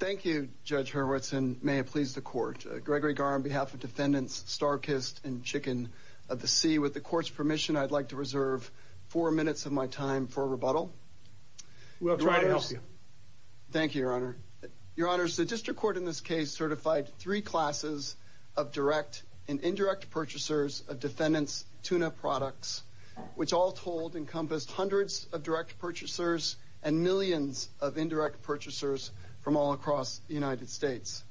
Thank you, Judge Hurwitz, and may it please the Court. Gregory Gar on behalf of Defendants Starkist and Chicken of the Sea, with the Court's permission, I'd like to reserve four minutes of my time for rebuttal. We'll try to help you. Thank you, Your Honor. Your Honors, the District Court in this case certified three classes of direct and indirect purchasers of Defendants' tuna products, which all told encompassed hundreds of direct purchasers and millions of indirect purchasers from all across the United States.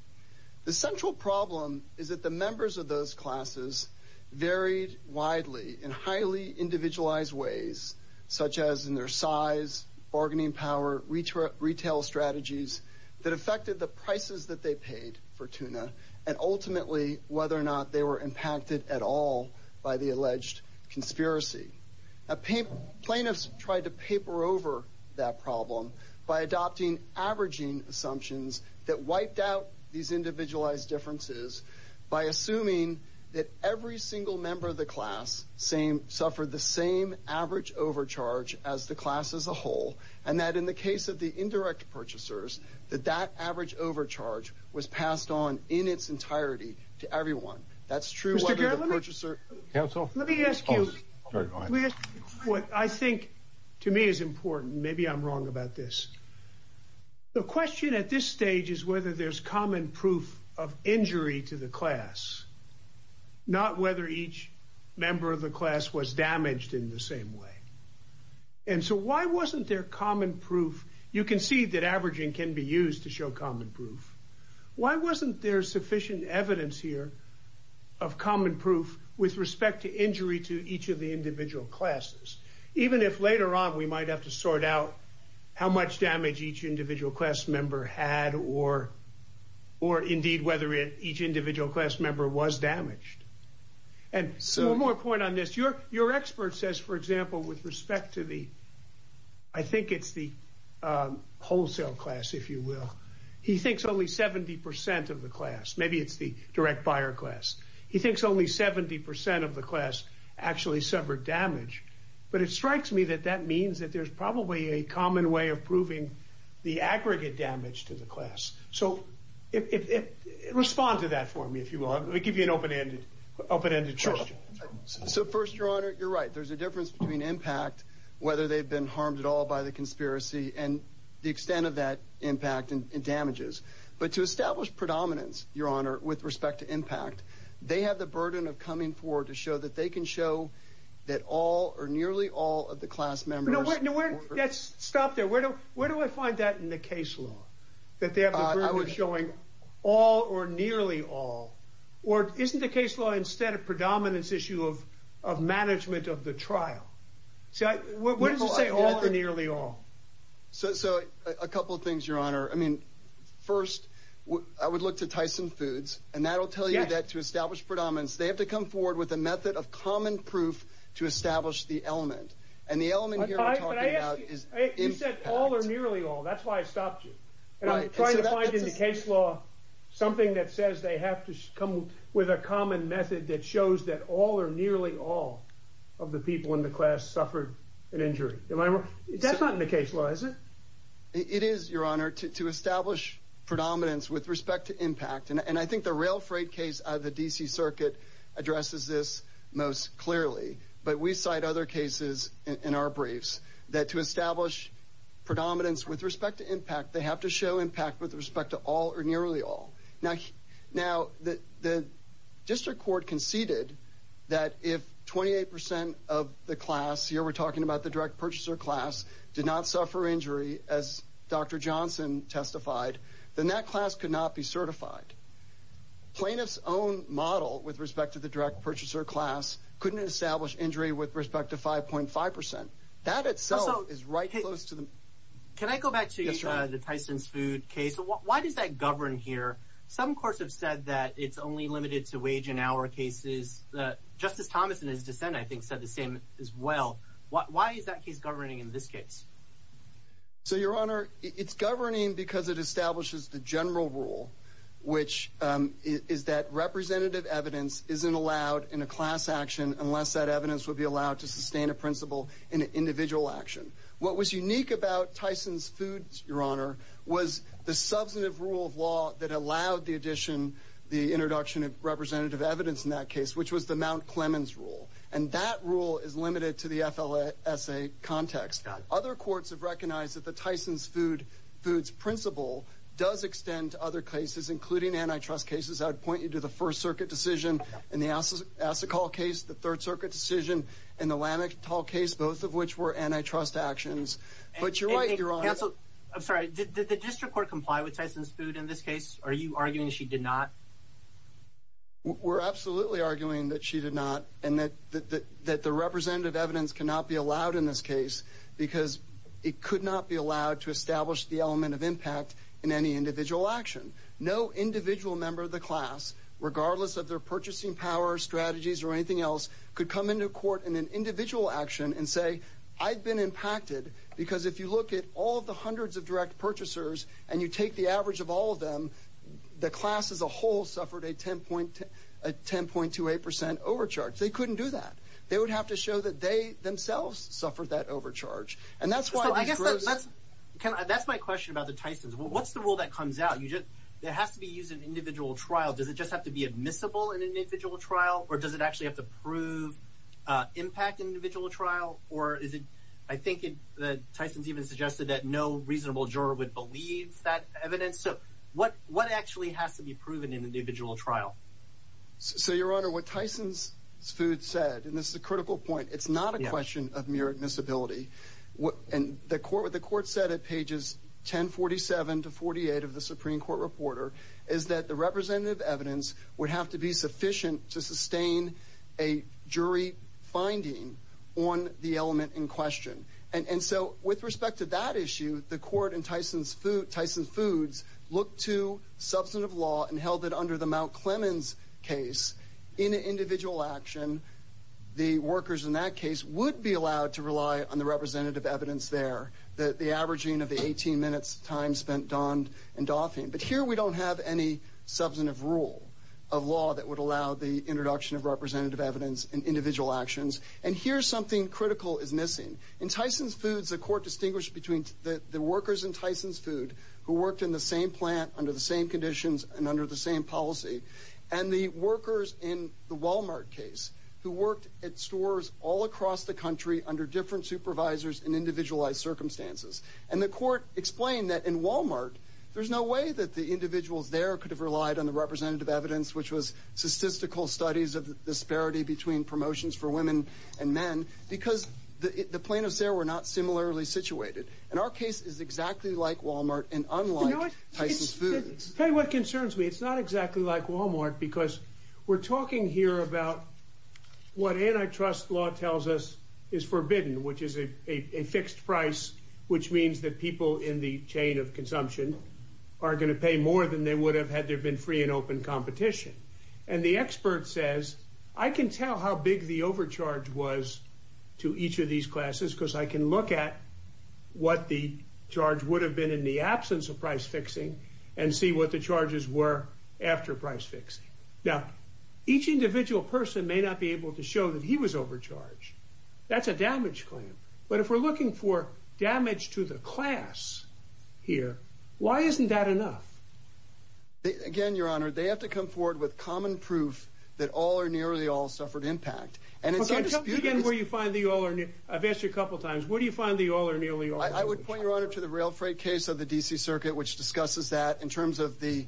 The central problem is that the members of those classes varied widely in highly individualized ways, such as in their size, bargaining power, retail strategies that affected the prices that they paid for tuna, and ultimately whether or not they were impacted at all by the alleged conspiracy. Plaintiffs tried to paper over that problem by adopting averaging assumptions that wiped out these individualized differences by assuming that every single member of the class suffered the same average overcharge as the class as a whole, and that in the case of the indirect purchasers, that that average overcharge was passed on in its entirety to everyone. That's true whether the purchaser... Mr. Garland, let me ask you what I think to me is important. Maybe I'm wrong about this. The question at this stage is whether there's common proof of injury to the class, not whether each member of the class was damaged in the same way. And so why wasn't there common proof? You can see that averaging can be used to show common proof. Why wasn't there sufficient evidence here of common proof with respect to injury to each of the individual classes, even if later on we might have to sort out how much damage each individual class member had or indeed whether each individual class member was damaged? And so one more point on this. Your expert says, for example, with respect to the... He thinks only 70% of the class, maybe it's the direct buyer class. He thinks only 70% of the class actually suffered damage. But it strikes me that that means that there's probably a common way of proving the aggregate damage to the class. So respond to that for me, if you will. I'll give you an open-ended question. So first, Your Honor, you're right. There's a difference between impact, whether they've been harmed at all by the conspiracy and the extent of that impact and damages. But to establish predominance, Your Honor, with respect to impact, they have the burden of coming forward to show that they can show that all or nearly all of the class members... Stop there. Where do I find that in the case law, that they have the burden of showing all or nearly all? Or isn't the case law instead of predominance issue of management of the trial? What does it say, all or nearly all? So a couple of things, Your Honor. First, I would look to Tyson Foods, and that'll tell you that to establish predominance, they have to come forward with a method of common proof to establish the element. And the element here I'm talking about is impact. You said all or nearly all. That's why I stopped you. And I'm trying to find in the case law something that says they have to come with a predominance to show that all or nearly all of the people in the class suffered an injury. That's not in the case law, is it? It is, Your Honor, to establish predominance with respect to impact. And I think the rail freight case of the D.C. Circuit addresses this most clearly. But we cite other cases in our briefs that to establish predominance with respect to impact, they have to show impact with respect to all or nearly all. Now, the district court conceded that if 28 percent of the class, here we're talking about the direct purchaser class, did not suffer injury, as Dr. Johnson testified, then that class could not be certified. Plaintiff's own model with respect to the direct purchaser class couldn't establish injury with respect to 5.5 percent. That itself is right close to the... Why does that govern here? Some courts have said that it's only limited to wage and hour cases. Justice Thomas, in his dissent, I think said the same as well. Why is that case governing in this case? So, Your Honor, it's governing because it establishes the general rule, which is that representative evidence isn't allowed in a class action unless that evidence would be allowed to sustain a principle in an individual action. What was unique about Tyson's Foods, Your Honor, was the substantive rule of law that allowed the addition, the introduction of representative evidence in that case, which was the Mount Clemens rule. And that rule is limited to the FLSA context. Other courts have recognized that the Tyson's Foods principle does extend to other cases, including antitrust cases. I would point you to the First Circuit decision in the Assacol case, the Third Circuit decision in the Lamictal case, both of which were antitrust actions. But you're right, Your Honor. Counsel, I'm sorry, did the district court comply with Tyson's Foods in this case? Are you arguing she did not? We're absolutely arguing that she did not and that the representative evidence cannot be allowed in this case because it could not be allowed to establish the element of impact in any individual action. No individual member of the class, regardless of their purchasing power, strategies, or anything else, could come into court in an impacted because if you look at all the hundreds of direct purchasers and you take the average of all of them, the class as a whole suffered a 10.28% overcharge. They couldn't do that. They would have to show that they themselves suffered that overcharge. And that's why- That's my question about the Tyson's. What's the rule that comes out? There has to be used in individual trial. Does it just have to be admissible in individual trial or does it actually have to prove impact in individual trial? Or is it- I think that Tyson's even suggested that no reasonable juror would believe that evidence. So what actually has to be proven in individual trial? So, Your Honor, what Tyson's Foods said, and this is a critical point, it's not a question of mere admissibility. What the court said at pages 1047 to 48 of the Supreme Court Reporter is that the representative evidence would have to be sufficient to sustain a jury finding on the element in question. And so with respect to that issue, the court in Tyson's Foods looked to substantive law and held that under the Mount Clemens case, in an individual action, the workers in that case would be allowed to rely on the representative evidence there. The averaging of the 18 minutes time spent donned and doffing. But here we don't have any substantive rule of law that would allow the introduction of representative evidence in individual actions. And here's something critical is missing. In Tyson's Foods, the court distinguished between the workers in Tyson's Foods who worked in the same plant, under the same conditions, and under the same policy, and the workers in the Walmart case who worked at stores all across the country under different supervisors and individualized circumstances. And the court explained that in Walmart, there's no way that the individuals there could have relied on the representative evidence, which was statistical studies of the disparity between promotions for women and men, because the plaintiffs there were not similarly situated. And our case is exactly like Walmart and unlike Tyson's Foods. Tell you what concerns me, it's not exactly like Walmart, because we're talking here about what antitrust law tells us is forbidden, which is a fixed price, which means that people in the chain of consumption are going to pay more than they would have had there been free and open competition. And the expert says, I can tell how big the overcharge was to each of these classes, because I can look at what the charge would have been in the absence of price fixing, and see what the charges were after price fixing. Now, each individual person may not be able to show that he was overcharged. That's a damage claim. But if we're looking for damage to the class here, why isn't that enough? Again, your honor, they have to come forward with common proof that all or nearly all suffered impact. And it's again, where you find the all or I've asked you a couple times, what do you find I would point your honor to the rail freight case of the DC circuit, which discusses that in terms of the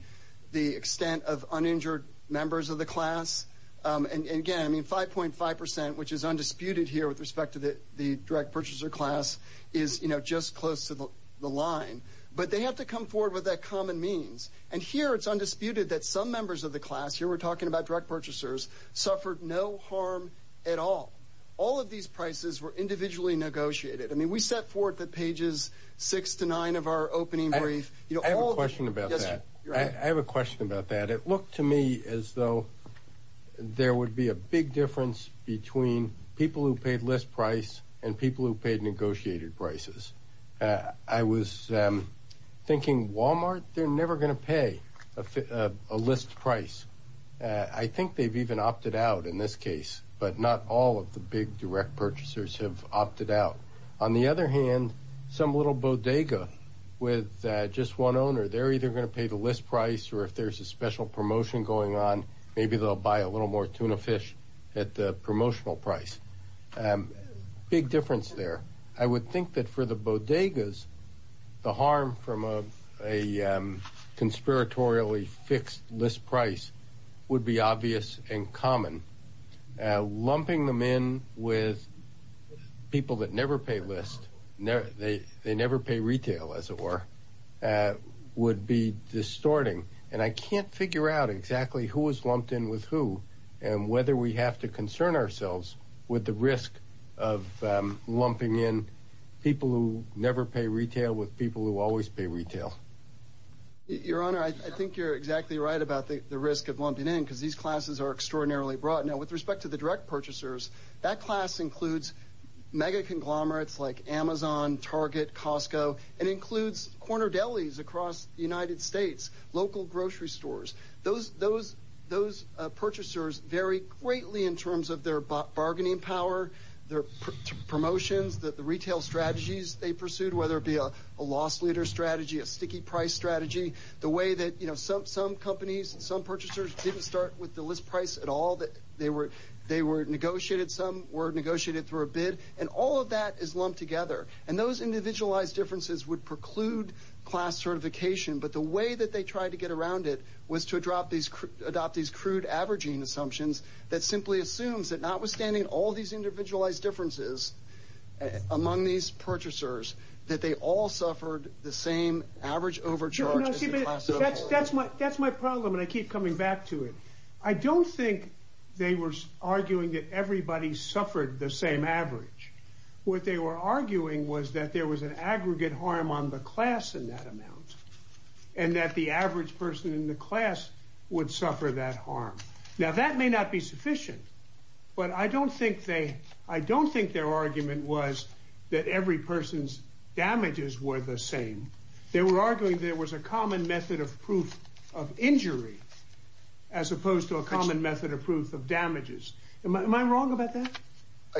the extent of uninjured members of the class. And again, I mean, 5.5%, which is undisputed here with respect to the the direct purchaser class is, you know, just close to the line, but they have to come forward with that common means. And here, it's undisputed that some members of the class here, we're talking about direct purchasers suffered no harm at all. All of these prices were individually negotiated. I mean, we set forth the pages six to nine of our opening brief. You know, I have a question about that. I have a question about that. It looked to me as though there would be a big difference between people who paid list price and people who paid negotiated prices. I was thinking Walmart, they're never going to pay a list price. I think they've even opted out in this case, but not all of the big direct purchasers have opted out. On the other hand, some little bodega with just one owner, they're either going to pay the list price, or if there's a special promotion going on, maybe they'll buy a little more tuna fish at the promotional price. Big difference there. I would think that for the bodegas, the harm from a conspiratorially fixed list price would be obvious and common. Lumping them in with people that never pay list, they never pay retail, as it were, would be distorting. And I can't figure out exactly who was lumped in with who, and whether we have to concern ourselves with the risk of lumping in people who never pay retail with people who always pay retail. Your Honor, I think you're exactly right about the risk of lumping in, because these classes are extraordinarily broad. Now, with respect to the direct purchasers, that class includes mega conglomerates like Amazon, Target, Costco, and includes corner delis across the United States, local grocery stores. Those purchasers vary greatly in terms their bargaining power, their promotions, the retail strategies they pursued, whether it be a loss leader strategy, a sticky price strategy, the way that some companies, some purchasers didn't start with the list price at all. They were negotiated, some were negotiated through a bid, and all of that is lumped together. And those individualized differences would preclude class certification, but the way that they tried to get around it was to adopt these crude averaging assumptions that simply assumes that notwithstanding all these individualized differences among these purchasers, that they all suffered the same average overcharge. No, see, but that's my problem, and I keep coming back to it. I don't think they were arguing that everybody suffered the same average. What they were arguing was that there was an aggregate harm on the class in that amount, and that the average person in the class would suffer that harm. Now, that may not be sufficient, but I don't think they, I don't think their argument was that every person's damages were the same. They were arguing there was a common method of proof of injury as opposed to a common method of proof of damages. Am I wrong about that?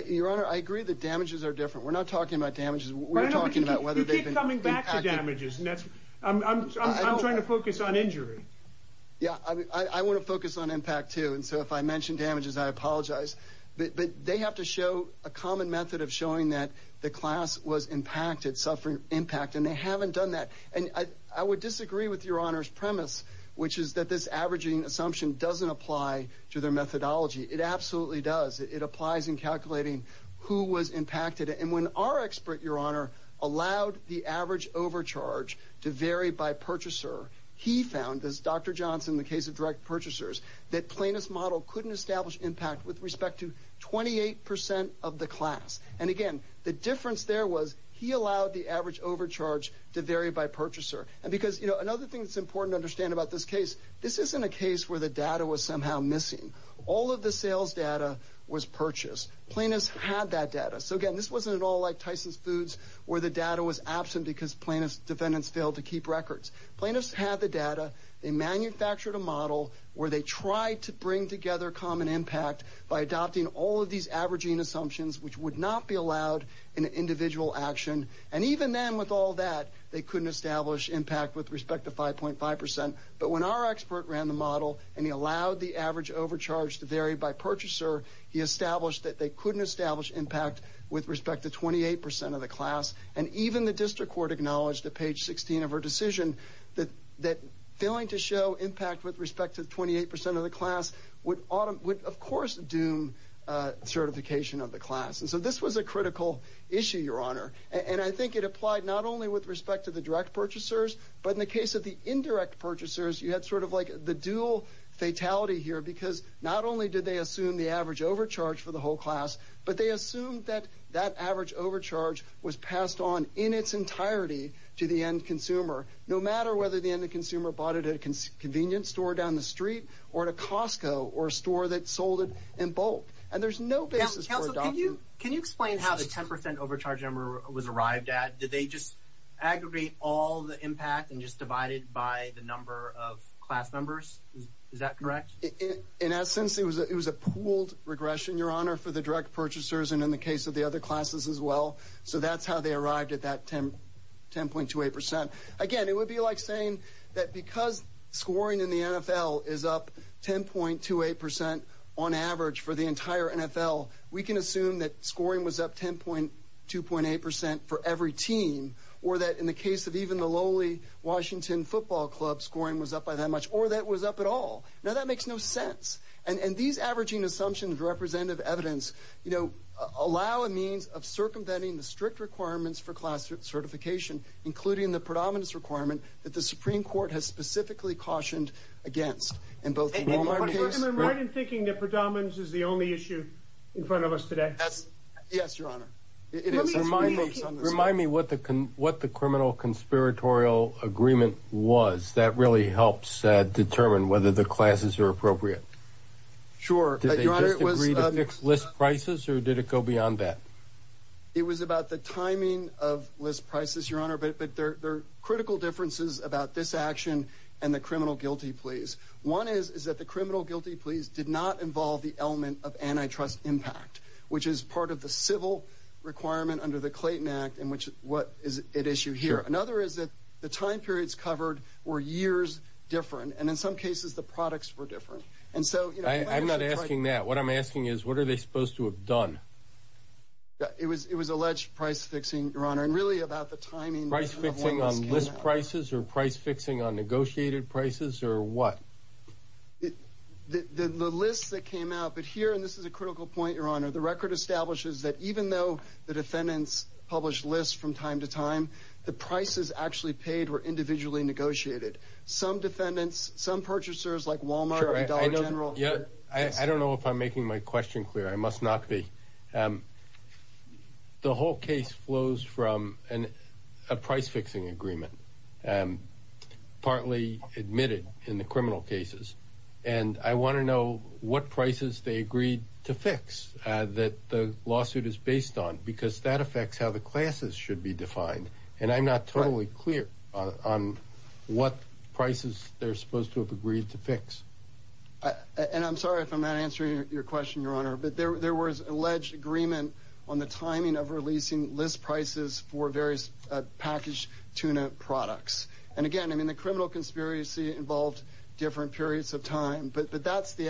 Your Honor, I agree that damages are different. We're not talking about damages. We're talking about whether they've been impacted. You keep coming back to damages, and that's, I'm trying to focus on injury. Yeah, I want to focus on impact, too, and so if I mention damages, I apologize, but they have to show a common method of showing that the class was impacted, suffering impact, and they haven't done that, and I would disagree with Your Honor's premise, which is that this averaging assumption doesn't apply to their methodology. It absolutely does. It applies in calculating who was impacted, and when our expert, Your Honor, allowed the average overcharge to vary by purchaser, he found, as Dr. Johnson, the case of direct purchasers, that Plaintiff's model couldn't establish impact with respect to 28% of the class, and again, the difference there was he allowed the average overcharge to vary by purchaser, and because, you know, another thing that's important to understand about this case, this isn't a case where the data was somehow missing. All of the sales data was purchased. Plaintiff's had that data, so again, this wasn't at all like Plaintiff's had the data. They manufactured a model where they tried to bring together common impact by adopting all of these averaging assumptions, which would not be allowed in an individual action, and even then, with all that, they couldn't establish impact with respect to 5.5%, but when our expert ran the model, and he allowed the average overcharge to vary by purchaser, he established that they couldn't establish impact with respect to 28% of the class, and even the district court acknowledged at page 16 of her decision that failing to show impact with respect to 28% of the class would, of course, doom certification of the class, and so this was a critical issue, Your Honor, and I think it applied not only with respect to the direct purchasers, but in the case of the indirect purchasers, you had sort of like the dual fatality here, because not only did they assume the average overcharge for the whole class, but they assumed that that average overcharge was passed on in its entirety to the end consumer, no matter whether the end consumer bought it at a convenience store down the street, or at a Costco, or a store that sold it in bulk, and there's no basis for adoption. Can you explain how the 10% overcharge number was arrived at? Did they just aggregate all the impact and just divide it by the number of class members? Is that correct? In essence, it was a pooled regression, Your Honor, for the direct purchasers, and in the case of the other classes as well, so that's how they arrived at that 10.28%. Again, it would be like saying that because scoring in the NFL is up 10.28% on average for the entire NFL, we can assume that scoring was up 10.2.8% for every team, or that in the case of even the lowly Washington football club, scoring was up by that much, or that it was up at all. Now, that makes no sense, and these averaging assumptions, representative evidence, allow a means of circumventing the strict requirements for class certification, including the predominance requirement that the Supreme Court has specifically cautioned against, in both the Walmart case... And you're right in thinking that predominance is the only issue in front of us today. Yes, Your Honor. It is. Let me ask you... Remind me what the criminal conspiratorial agreement was. That really helps determine whether the classes are appropriate. Sure. Did they just agree to fix list prices, or did it go beyond that? It was about the timing of list prices, Your Honor, but there are critical differences about this action and the criminal guilty pleas. One is that the criminal guilty pleas did not involve the element of antitrust impact, which is part of the civil requirement under the Clayton Act, and what is at issue here. Another is that the time periods covered were years different, and in some cases, the products were different. And so, you know... I'm not asking that. What I'm asking is, what are they supposed to have done? It was alleged price fixing, Your Honor, and really about the timing... Price fixing on list prices, or price fixing on negotiated prices, or what? The list that came out, but here, and this is a critical point, Your Honor, the record establishes that even though the defendants published lists from time to time, the prices actually paid were individually negotiated. Some defendants, some purchasers like Walmart and Dollar General... I don't know if I'm making my question clear. I must not be. The whole case flows from a price fixing agreement, partly admitted in the criminal cases, and I want to know what prices they agreed to fix that the lawsuit is based on, because that affects how the classes should be defined, and I'm not totally clear on what prices they're supposed to have agreed to fix. And I'm sorry if I'm not answering your question, Your Honor, but there was alleged agreement on the timing of releasing list prices for various packaged tuna products. And again, I mean, the criminal conspiracy involved different periods of time, but that's the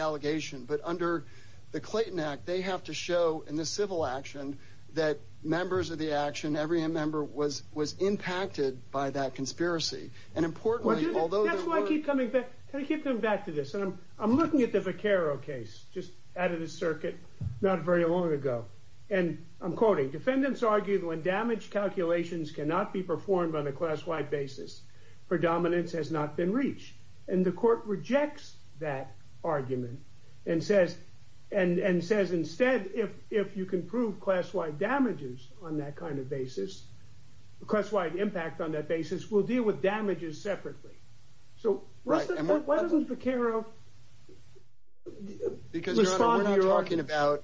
show in this civil action that members of the action, every member was impacted by that conspiracy. And importantly, although... That's why I keep coming back to this, and I'm looking at the Vaccaro case just out of the circuit not very long ago, and I'm quoting, defendants argue that when damage calculations cannot be performed on a class-wide basis, predominance has not been reached. And the court rejects that argument and says, and says instead, if you can prove class-wide damages on that kind of basis, class-wide impact on that basis, we'll deal with damages separately. So why doesn't Vaccaro... Because Your Honor, we're not talking about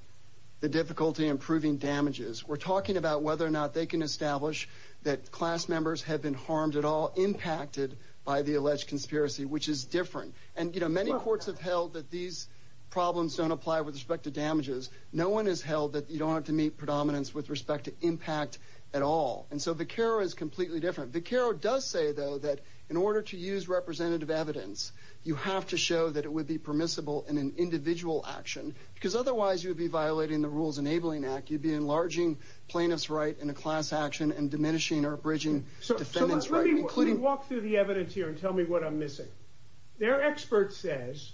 the difficulty in proving damages, we're talking about whether or not they can establish that class members have been harmed at all, impacted by the alleged conspiracy, which is different. And, you know, many courts have held that these problems don't apply with respect to damages. No one has held that you don't have to meet predominance with respect to impact at all. And so Vaccaro is completely different. Vaccaro does say, though, that in order to use representative evidence, you have to show that it would be permissible in an individual action, because otherwise you'd be violating the Rules Enabling Act. You'd be enlarging plaintiff's right in a class action and diminishing or abridging defendant's right. So let me walk through the evidence here and tell me what I'm missing. Their expert says,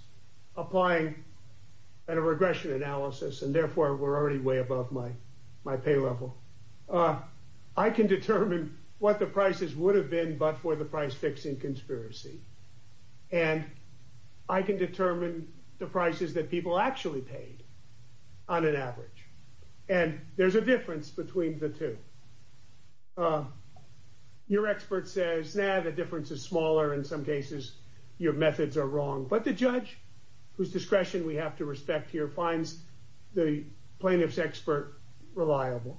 applying a regression analysis, and therefore we're already way above my pay level, I can determine what the prices would have been but for the price-fixing conspiracy. And I can determine the prices that people actually paid on an average. And there's a difference between the two. Your expert says, nah, the difference is smaller. In some cases, your methods are wrong. But the judge, whose discretion we have to respect here, finds the plaintiff's expert reliable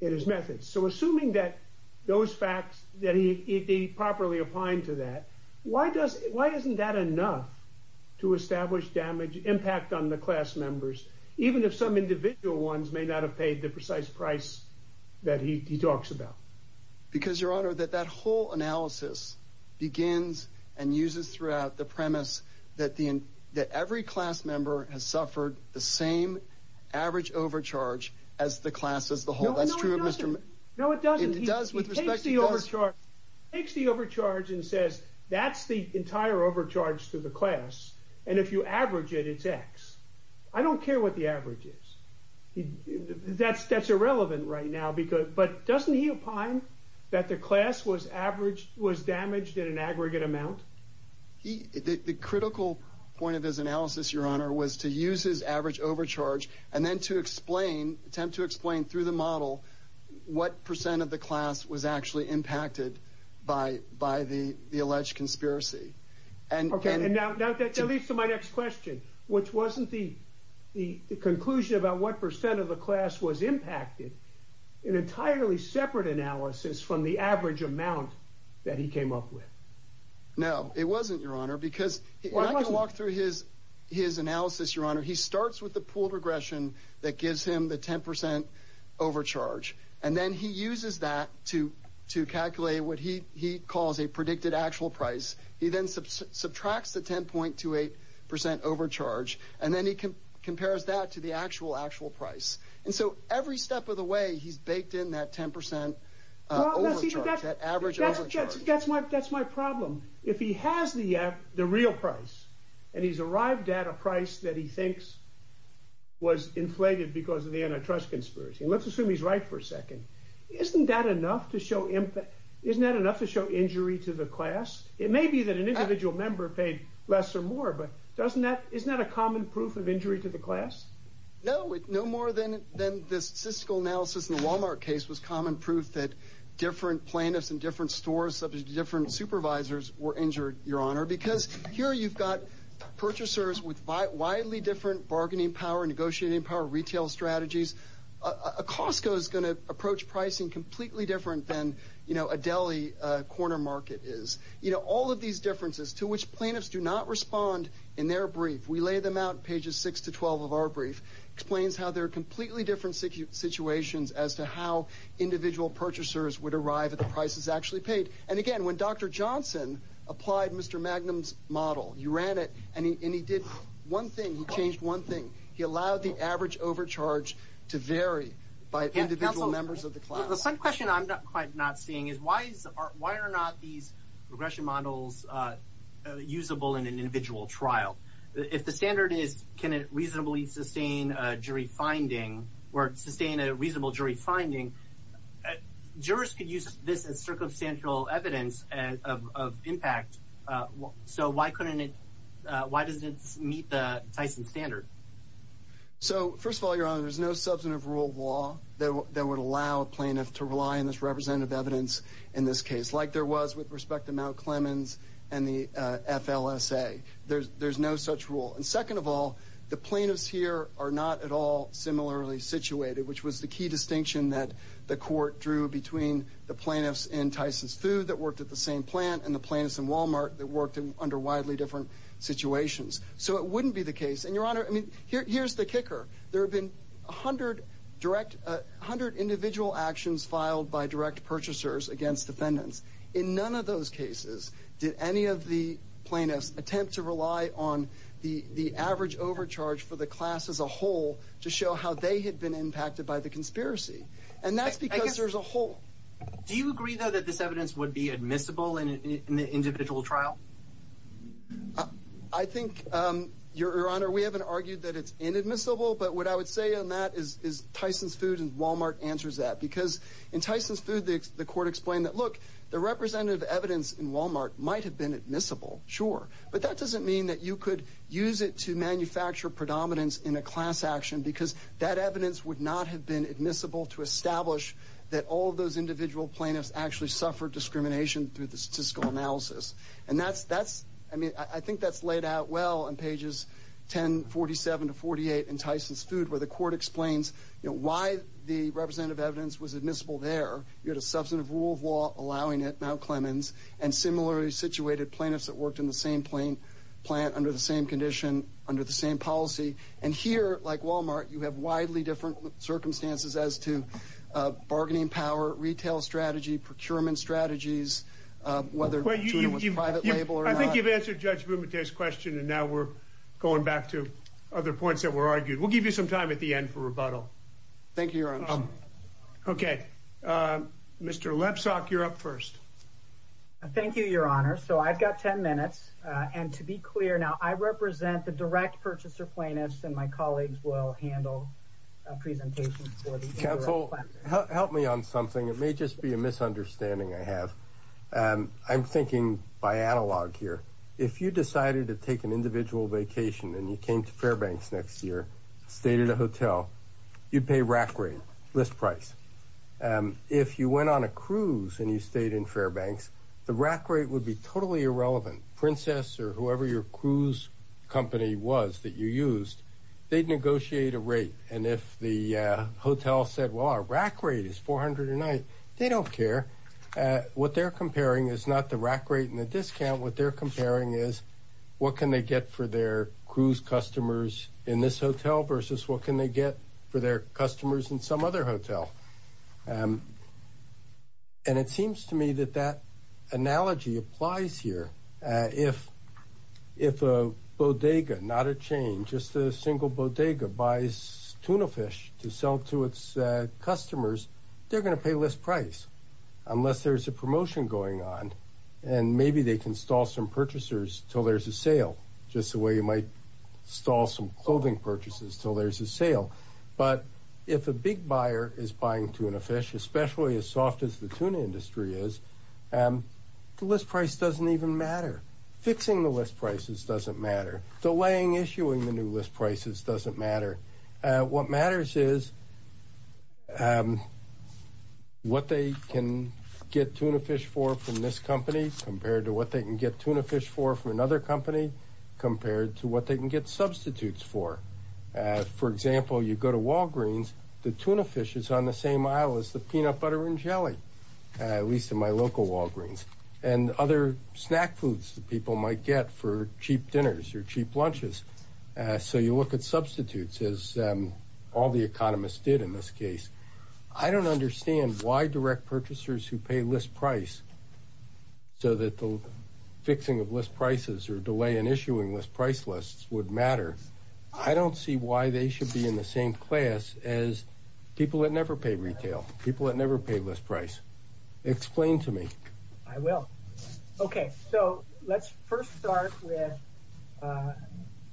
in his methods. So assuming that those facts, that he properly applied to that, why doesn't that enough to establish damage impact on the class members, even if some individual ones may not have paid the precise price that he talks about? Because, your honor, that that whole analysis begins and uses throughout the premise that every class member has suffered the same average overcharge as the class as the whole. No, it doesn't. He takes the overcharge and says, that's the entire overcharge to the class, and if you average it, it's X. I don't care what the average is. That's irrelevant right now, because, but doesn't he opine that the class was averaged, was damaged in an aggregate amount? The critical point of his analysis, your honor, was to use his average overcharge and then to explain, attempt to explain through the model, what percent of the class was actually impacted by the alleged conspiracy. Okay, and now that leads to my next question, which wasn't the conclusion about what percent of the class was impacted, an entirely separate analysis from the average amount that he came up with. No, it wasn't, your honor, because I can walk through his analysis, your honor. He starts with pooled regression that gives him the 10% overcharge, and then he uses that to calculate what he calls a predicted actual price. He then subtracts the 10.28% overcharge, and then he compares that to the actual, actual price. And so, every step of the way, he's baked in that 10% overcharge, that average overcharge. That's my problem. If he has the real price, and he's arrived at a price that he thinks was inflated because of the antitrust conspiracy, let's assume he's right for a second. Isn't that enough to show impact? Isn't that enough to show injury to the class? It may be that an individual member paid less or more, but doesn't that, isn't that a common proof of injury to the class? No, no more than the statistical analysis in the Walmart case was common proof that different plaintiffs in different stores, subject to supervisors, were injured, your honor, because here you've got purchasers with widely different bargaining power, negotiating power, retail strategies. A Costco is going to approach pricing completely different than, you know, a deli corner market is. You know, all of these differences to which plaintiffs do not respond in their brief, we lay them out pages 6 to 12 of our brief, explains how they're completely different situations as to how individual purchasers would apply to the class. Dr. Johnson applied Mr. Magnum's model. He ran it, and he did one thing. He changed one thing. He allowed the average overcharge to vary by individual members of the class. The second question I'm quite not seeing is why are not these regression models usable in an individual trial? If the standard is, can it reasonably sustain a jury finding, or sustain of impact? So why couldn't it, why doesn't it meet the Tyson standard? So first of all, your honor, there's no substantive rule of law that would allow a plaintiff to rely on this representative evidence in this case, like there was with respect to Mount Clemens and the FLSA. There's no such rule. And second of all, the plaintiffs here are not at all similarly situated, which was the key plant and the plaintiffs in Walmart that worked under widely different situations. So it wouldn't be the case, and your honor, I mean, here's the kicker. There have been 100 direct, 100 individual actions filed by direct purchasers against defendants. In none of those cases did any of the plaintiffs attempt to rely on the average overcharge for the class as a whole to show how they had been impacted by the conspiracy. And that's because there's a hole. Do you agree though that this evidence would be admissible in the individual trial? I think, your honor, we haven't argued that it's inadmissible, but what I would say on that is Tyson's food and Walmart answers that. Because in Tyson's food, the court explained that, look, the representative evidence in Walmart might have been admissible, sure. But that doesn't mean that you could use it to manufacture predominance in a class action, because that evidence would not have been admissible to suffer discrimination through the statistical analysis. And that's, I mean, I think that's laid out well on pages 1047 to 48 in Tyson's food, where the court explains, you know, why the representative evidence was admissible there. You had a substantive rule of law allowing it, Mount Clemens, and similarly situated plaintiffs that worked in the same plant under the same condition, under the same policy. And here, like Walmart, you have widely different circumstances as to bargaining power, retail strategy, procurement strategies, whether to do it with a private label or not. I think you've answered Judge Bumate's question, and now we're going back to other points that were argued. We'll give you some time at the end for rebuttal. Thank you, your honor. Okay, Mr. Lepsock, you're up first. Thank you, your honor. So I've got 10 minutes, and to be clear now, I represent the direct purchaser plaintiffs, and my colleagues will handle a presentation for the jury. I'm going to focus mainly on something. It may just be a misunderstanding I have. I'm thinking by analog here. If you decided to take an individual vacation and you came to Fairbanks next year, stayed at a hotel, you'd pay rack rate, list price. If you went on a cruise and you stayed in Fairbanks, the rack rate would be totally irrelevant. Princess or whoever your cruise company was that you used, they'd negotiate a rate, and if the hotel said, well, our rack rate is $400 a night, they don't care. What they're comparing is not the rack rate and the discount. What they're comparing is what can they get for their cruise customers in this hotel versus what can they get for their customers in some other hotel, and it seems to me that that analogy applies here. If a bodega, not a chain, just a single bodega buys tuna fish to sell to its customers, they're going to pay list price unless there's a promotion going on, and maybe they can stall some purchasers till there's a sale. Just the way you might stall some clothing purchases till there's a sale, but if a big buyer is buying tuna fish, especially as soft as the tuna industry is, the list price doesn't even matter. Fixing the list prices doesn't matter. Delaying issuing the new list prices doesn't matter. What matters is what they can get tuna fish for from this company compared to what they can get tuna fish for from another company compared to what they can get substitutes for. For example, you go to Walgreens, the tuna fish is on the same aisle as the peanut butter and jelly, at least in my local Walgreens, and other snack foods that people might get for cheap dinners or cheap lunches, so you look at substitutes as all the economists did in this case. I don't understand why direct purchasers who pay list price so that the fixing of list prices or delay in issuing list price lists would matter. I don't see why they should be in the same class as people that never pay retail, people that never pay list price. Explain to me. I will. Okay, so let's first start with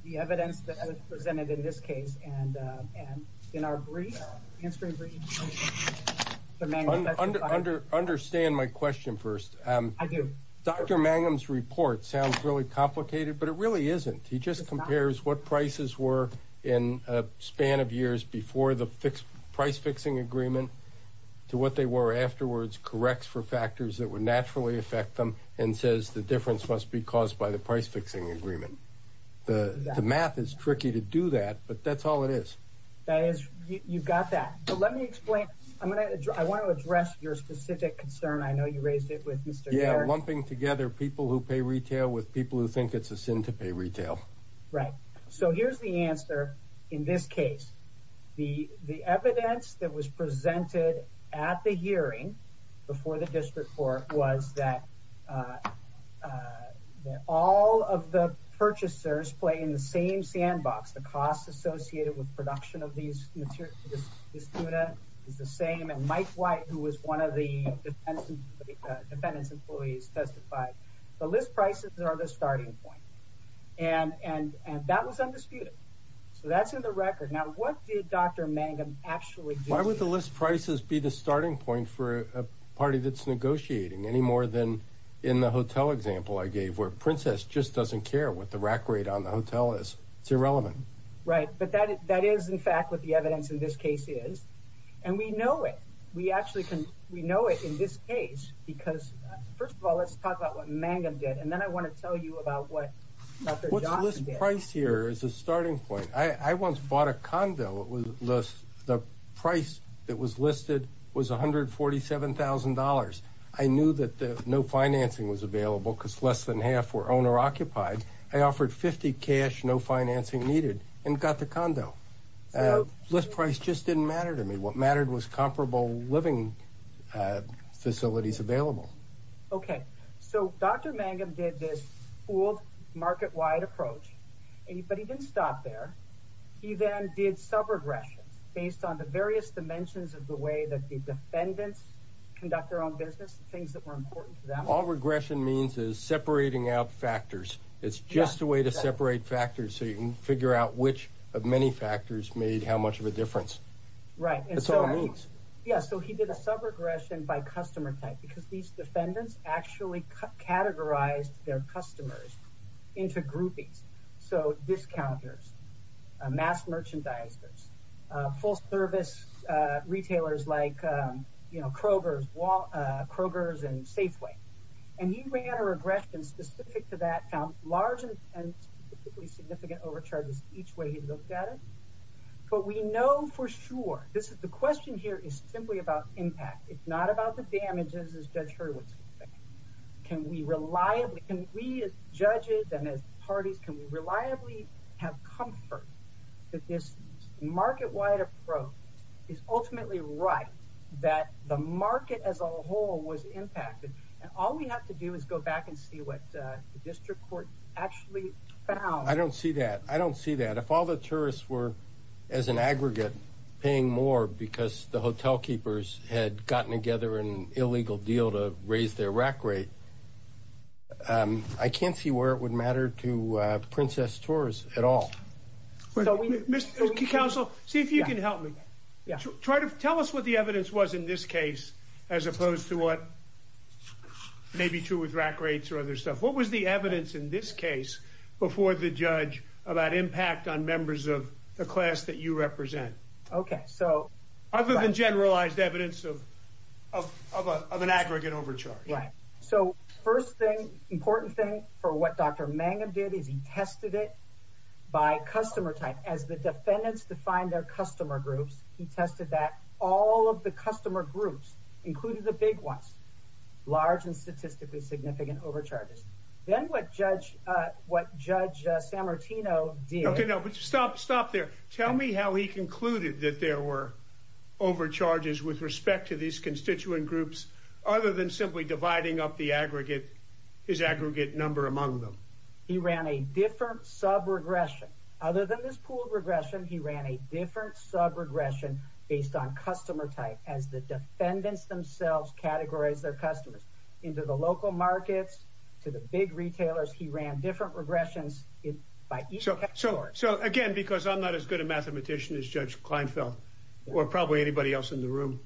the evidence that was presented in this case and in our brief. Understand my question first. I do. Dr. Mangum's report sounds really complicated, but it really isn't. He just compares what prices were in a span of years before the price-fixing agreement to what they were afterwards, corrects for factors that would naturally affect them, and says the difference must be caused by the price-fixing agreement. The math is tricky to do that, but that's all it is. You've got that, but let me explain. I want to address your specific concern. I know you raised it with Mr. Garrett. Yeah, who pay retail with people who think it's a sin to pay retail. Right, so here's the answer. In this case, the evidence that was presented at the hearing before the district court was that all of the purchasers play in the same sandbox. The costs associated with production of these materials is the same, and Mike White, who was one of the defendants' employees, testified the list prices are the starting point, and that was undisputed. So that's in the record. Now, what did Dr. Mangum actually do? Why would the list prices be the starting point for a party that's negotiating any more than in the hotel example I gave, where Princess just doesn't care what the rack rate on the hotel is? It's irrelevant. Right, but that is, in fact, what the evidence in this case is, and we know it. We know it in this case because, first of all, let's talk about what Mangum did, and then I want to tell you about what Dr. Johnson did. What's the list price here is the starting point. I once bought a condo. The price that was listed was $147,000. I knew that no financing was available because less than $147,000 for a condo. List price just didn't matter to me. What mattered was comparable living facilities available. Okay, so Dr. Mangum did this pooled, market-wide approach, but he didn't stop there. He then did sub-regressions based on the various dimensions of the way that the defendants conduct their own business, the things that were important to them. All regression means is separating out factors. It's just a way to separate factors so you can figure out which of many factors made how much of a difference. Right. That's all it means. Yeah, so he did a sub-regression by customer type because these defendants actually categorized their customers into groupings, so discounters, mass merchandisers, full-service retailers like Kroger's and Safeway. He ran a regression specific to that, found large and particularly significant overcharges each way he looked at it. But we know for sure, the question here is simply about impact. It's not about the damages as Judge Hurwitz would say. Can we reliably, can we as judges and as parties, can we reliably have comfort that this market-wide approach is ultimately right that the market as a whole was impacted? And all we have to do is go back and see what the I don't see that. If all the tourists were, as an aggregate, paying more because the hotel keepers had gotten together an illegal deal to raise their rack rate, I can't see where it would matter to Princess Tours at all. Counsel, see if you can help me. Tell us what the evidence was in this case as opposed to what may be true with rack rates or other stuff. What was the about impact on members of the class that you represent? Other than generalized evidence of an aggregate overcharge. Right. So first thing, important thing for what Dr. Mangum did is he tested it by customer type. As the defendants defined their customer groups, he tested that all of the customer groups, including the big ones, large and statistically significant overcharges. Then what Judge Sammartino did. Okay, no, but stop, stop there. Tell me how he concluded that there were overcharges with respect to these constituent groups, other than simply dividing up the aggregate, his aggregate number among them. He ran a different sub regression. Other than this pooled regression, he ran a different sub regression based on customer type as the defendants categorized their customers into the local markets to the big retailers. He ran different regressions by each category. So again, because I'm not as good a mathematician as Judge Kleinfeld or probably anybody else in the room.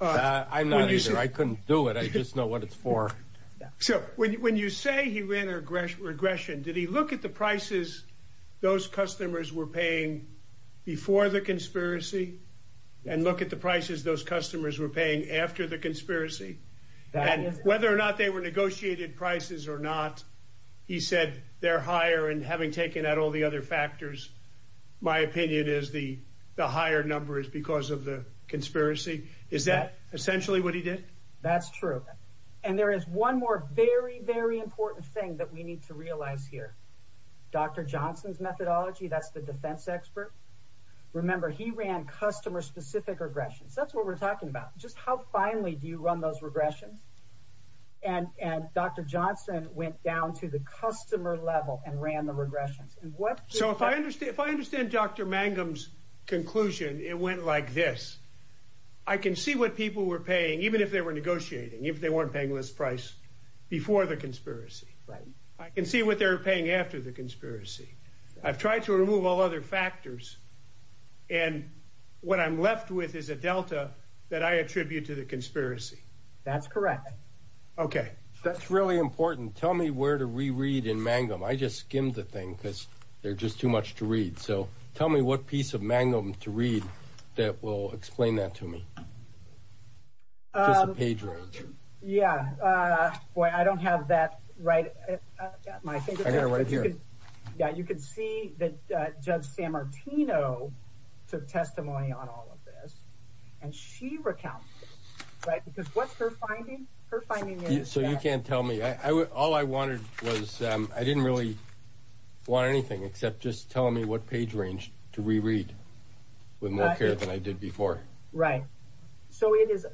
I'm not either. I couldn't do it. I just know what it's for. So when you say he ran a regression, did he look at the prices those customers were paying before the conspiracy and look at the prices those customers were paying after the conspiracy? Whether or not they were negotiated prices or not, he said they're higher. And having taken out all the other factors, my opinion is the higher number is because of the conspiracy. Is that essentially what he did? That's true. And there is one more very, very important thing that we need to realize here. Dr. Johnson's methodology. That's the expert. Remember, he ran customer specific regressions. That's what we're talking about. Just how finally do you run those regressions? And Dr. Johnson went down to the customer level and ran the regressions. So if I understand if I understand Dr. Mangum's conclusion, it went like this. I can see what people were paying, even if they were negotiating, if they weren't paying this price before the conspiracy. I can see what they're paying after the conspiracy. I've tried to remove all other factors. And what I'm left with is a delta that I attribute to the conspiracy. That's correct. OK, that's really important. Tell me where to reread in Mangum. I just skimmed the thing because there's just too much to read. So tell me what piece of Mangum to read that will explain that to me. Just the page range. Yeah. Boy, I don't have that right at my fingertips. I got it right here. Yeah, you can see that Judge Sammartino took testimony on all of this and she recounted it. Right. Because what's her finding? Her finding is. So you can't tell me. All I wanted was I didn't really want anything except just tell me what page range to reread with more care than I did before. Right. So it is.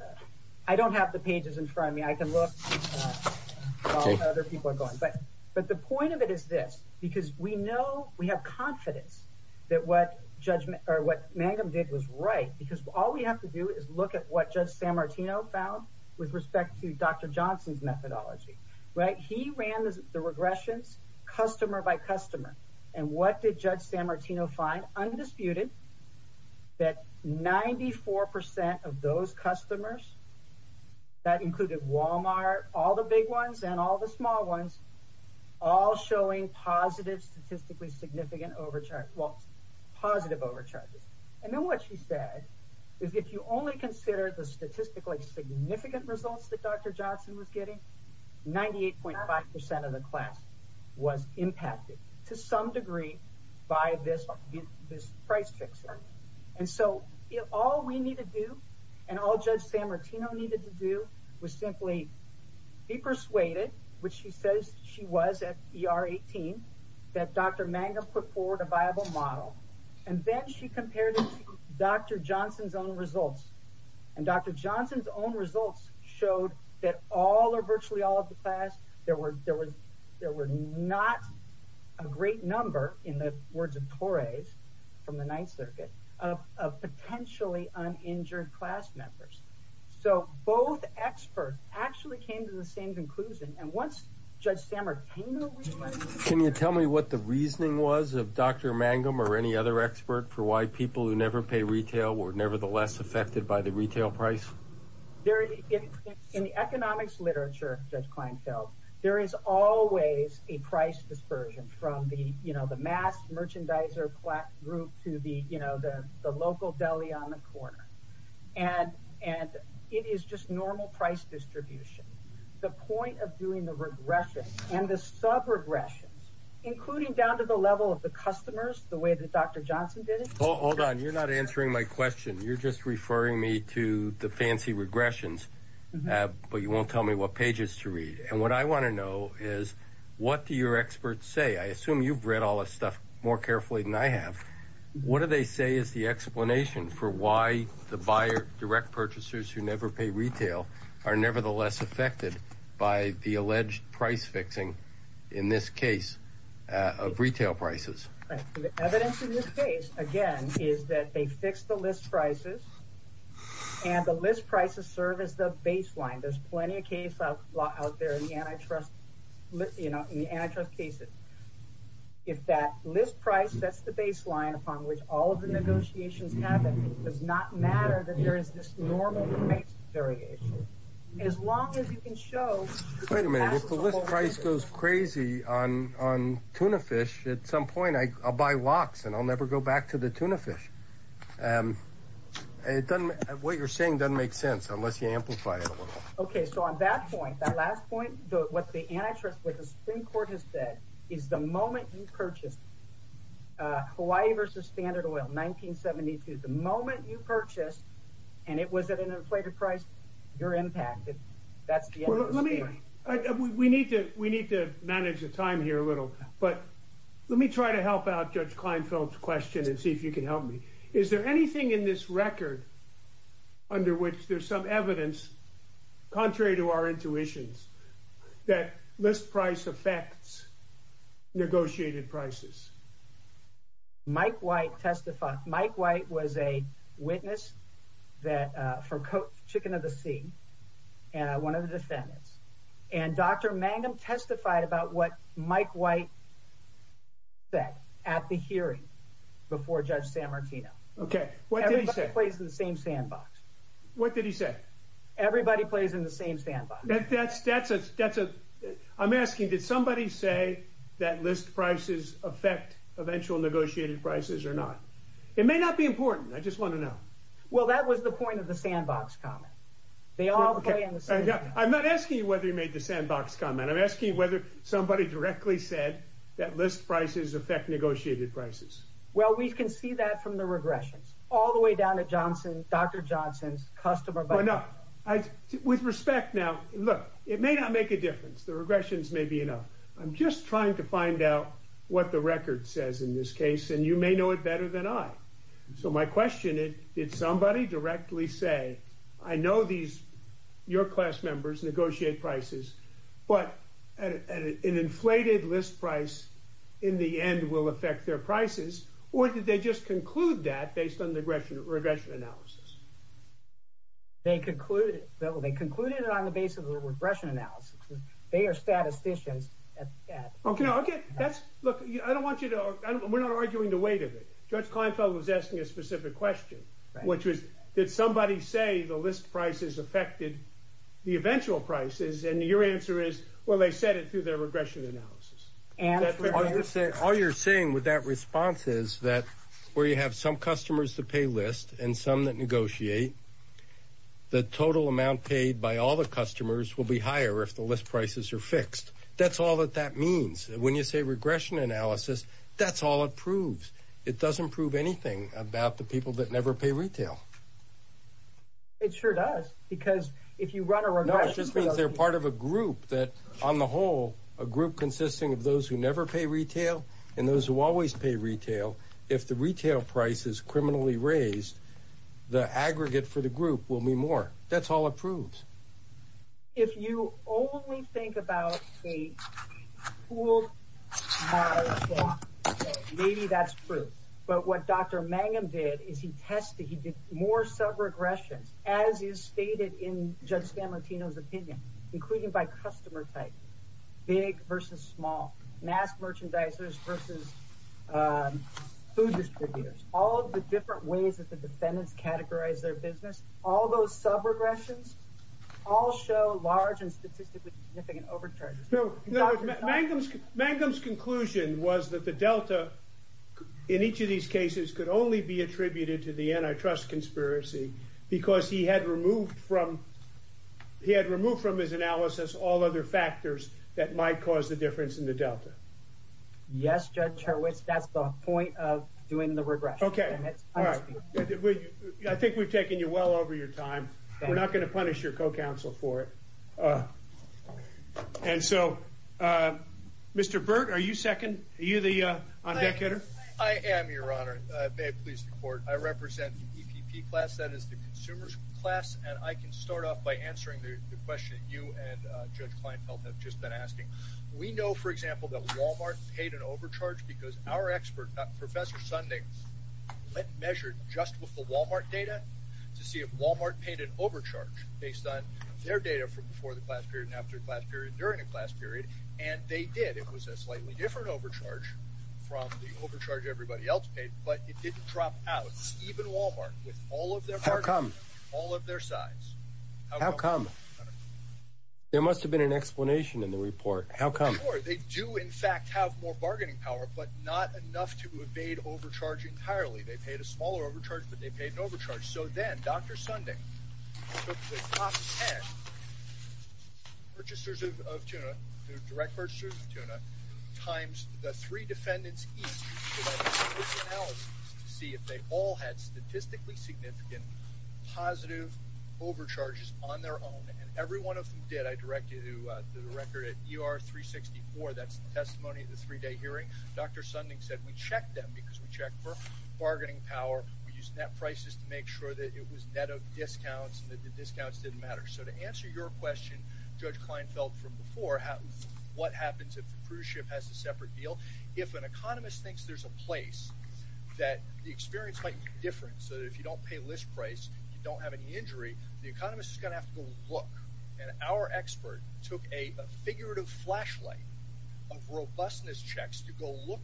I don't have the pages in front of me. I can look. OK, other people are going. But but the point of it is this, because we know we have confidence that what judgment or what Mangum did was right, because all we have to do is look at what Judge Sammartino found with respect to Dr. Johnson's methodology. Right. He ran the regressions customer by customer. And what did Judge Sammartino find? Undisputed that 94 percent of those customers that included Wal-Mart, all the big ones and all the small ones, all showing positive, statistically significant overcharge, well, positive overcharges. And then what she said is if you only consider the statistically significant results that Dr. was impacted to some degree by this, this price fix. And so if all we need to do and all Judge Sammartino needed to do was simply be persuaded, which she says she was at ER 18, that Dr. Mangum put forward a viable model. And then she compared it to Dr. Johnson's own results. And Dr. Johnson's own results showed that all or virtually all of the class there were there was there were not a great number in the words of Torres from the Ninth Circuit of potentially uninjured class members. So both experts actually came to the same conclusion. And once Judge Sammartino. Can you tell me what the reasoning was of Dr. Mangum or any other expert for why people who pay retail were nevertheless affected by the retail price? There is in the economics literature, Judge Kleinfeld, there is always a price dispersion from the, you know, the mass merchandiser group to the, you know, the local deli on the corner. And and it is just normal price distribution. The point of doing the regressions and the sub regressions, including down to the level of the customers, the way that Dr. Johnson did it. Hold on. You're not answering my question. You're just referring me to the fancy regressions. But you won't tell me what pages to read. And what I want to know is what do your experts say? I assume you've read all this stuff more carefully than I have. What do they say is the explanation for why the buyer direct purchasers who never pay retail are nevertheless affected by the is that they fix the list prices and the list prices serve as the baseline. There's plenty of case law out there in the antitrust, you know, in the antitrust cases. If that list price, that's the baseline upon which all of the negotiations happen, it does not matter that there is this normal price variation. As long as you can show. Wait a minute. If the list price goes crazy on tuna fish at some point, I'll buy locks and I'll never go back to the tuna fish. And it doesn't what you're saying doesn't make sense unless you amplify it. OK, so on that point, that last point, what the antitrust with the Supreme Court has said is the moment you purchase Hawaii versus Standard Oil 1972, the moment you purchase and it was at an inflated price, you're impacted. That's let me we need to we need to manage the time here a little. But let me try to help out Judge Kleinfeld's question and see if you can help me. Is there anything in this record under which there's some evidence, contrary to our intuitions, that this price affects negotiated prices? Mike White testified. Mike White was a witness that for chicken of the sea and one of the defendants and Dr. Mangum testified about what Mike White said at the hearing before Judge San Martino. OK, what do you say plays in the same sandbox? What did he say? Everybody plays in the same sandbox. That's that's a that's a I'm asking, did somebody say that list prices affect eventual negotiated prices or not? It may not be important. I just want to know. Well, that was the point of the sandbox comment. They all play in the same. I'm not asking you whether you made the sandbox comment. I'm asking whether somebody directly said that list prices affect negotiated prices. Well, we can see that from the regressions all the way down to Johnson, Dr. Johnson's customer. But with respect now, look, it may not make a difference. The regressions may be enough. I'm just trying to find out what the record says in this case. And you may know it better than I. So my question is, did somebody directly say, I know these your class members negotiate prices, but an inflated list price in the end will affect their prices? Or did they just conclude that based on the regression regression analysis? They concluded that they concluded it on the basis of the regression analysis. They are statisticians. OK, OK. That's look, I don't want you to. We're not arguing the weight of it. Judge Kleinfeld was asking a specific question, which is, did somebody say the list prices affected the eventual prices? And your answer is, well, they said it through their regression analysis. And all you're saying with that response is that where you have some customers to pay list and some that negotiate the total amount paid by all the customers will be higher if the list prices are fixed. That's all that that means. When you say regression analysis, that's all it proves. It doesn't prove anything about the people that never pay retail. It sure does, because if you run a regression, they're part of a group that on the whole, a group consisting of those who never pay retail and those who always pay retail. If the retail price is criminally raised, the aggregate for the group will be more. That's all it proves. If you only think about a pooled market, maybe that's true. But what Dr. Mangum did is he tested, he did more sub-regressions, as is stated in Judge Scamantino's opinion, including by customer type, big versus small, mass merchandisers versus food distributors. All of the different ways that the defendants categorize their business, all those sub-regressions, all show large and statistically significant overcharges. Mangum's conclusion was that the delta in each of these cases could only be attributed to the antitrust conspiracy, because he had removed from his analysis all other factors that might cause the difference in the delta. Yes, Judge Hurwitz, that's the point of doing the regression. Okay, all right. I think we've taken you well over your time. We're not going to punish your co-counsel for it. And so, Mr. Burt, are you second? Are you the on-deck hitter? I am, Your Honor. May it please the court. I represent the EPP class, that is the consumers class, and I can start off by answering the question that you and Judge Kleinfeld have just been asking. We know, for example, that Walmart paid an overcharge because our expert, Professor Sunding, measured just with the Walmart data to see if Walmart paid an overcharge based on their data from before the class period and after the class period, during the class period, and they did. It was a slightly different overcharge from the overcharge everybody else paid, but it didn't drop out. Even Walmart, with all of their bargaining power, all of their size. How come? There must have been an explanation in the report. How come? For sure. They do, in fact, have more bargaining power, but not enough to evade overcharge entirely. They paid a smaller overcharge, but they paid an overcharge. So then, Dr. Sunding took the top ten purchasers of tuna, the direct purchasers of tuna, times the three defendants each, and did a risk analysis to see if they all had statistically significant positive overcharges on their own, and every one of them did. I direct you to the record at ER 364. That's the testimony of the three-day hearing. Dr. Sunding said we checked them because we checked for bargaining power. We used net prices to make sure that it was net discounts and the discounts didn't matter. So to answer your question, Judge Kleinfeld, from before, what happens if the cruise ship has a separate deal? If an economist thinks there's a place that the experience might be different, so that if you don't pay list price, you don't have any injury, the economist is going to have to go look. And our expert took a figurative flashlight of robustness checks to go look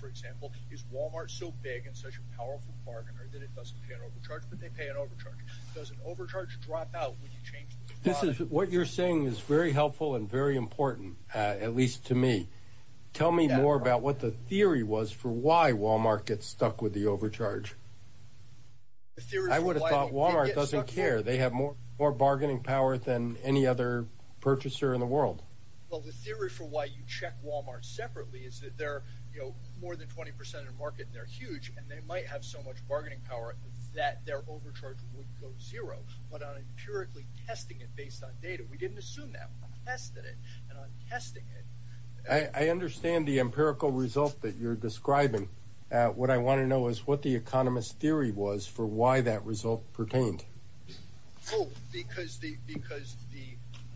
for example, is Walmart so big and such a powerful bargainer that it doesn't pay an overcharge, but they pay an overcharge. Does an overcharge drop out when you change the supply? What you're saying is very helpful and very important, at least to me. Tell me more about what the theory was for why Walmart gets stuck with the overcharge. I would have thought Walmart doesn't care. They have more bargaining power than any other purchaser in the world. Well, the theory for why you check Walmart separately is that they're, you know, more than 20% of the market and they're huge and they might have so much bargaining power that their overcharge would go zero. But on empirically testing it based on data, we didn't assume that. We tested it and on testing it. I understand the empirical result that you're describing. What I want to know is what the economist theory was for why that result pertained. Oh, because the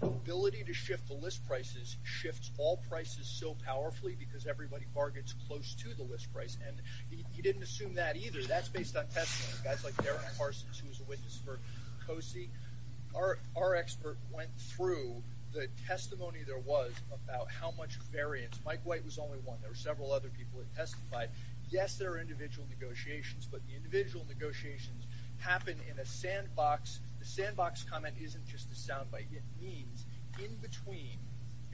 ability to shift list prices shifts all prices so powerfully because everybody bargains close to the list price. And he didn't assume that either. That's based on testing. Guys like Derek Parsons, who was a witness for COSI, our expert went through the testimony there was about how much variance. Mike White was only one. There were several other people that testified. Yes, there are individual negotiations, but the individual negotiations happen in a sandbox. The sandbox comment isn't just a soundbite. It means in between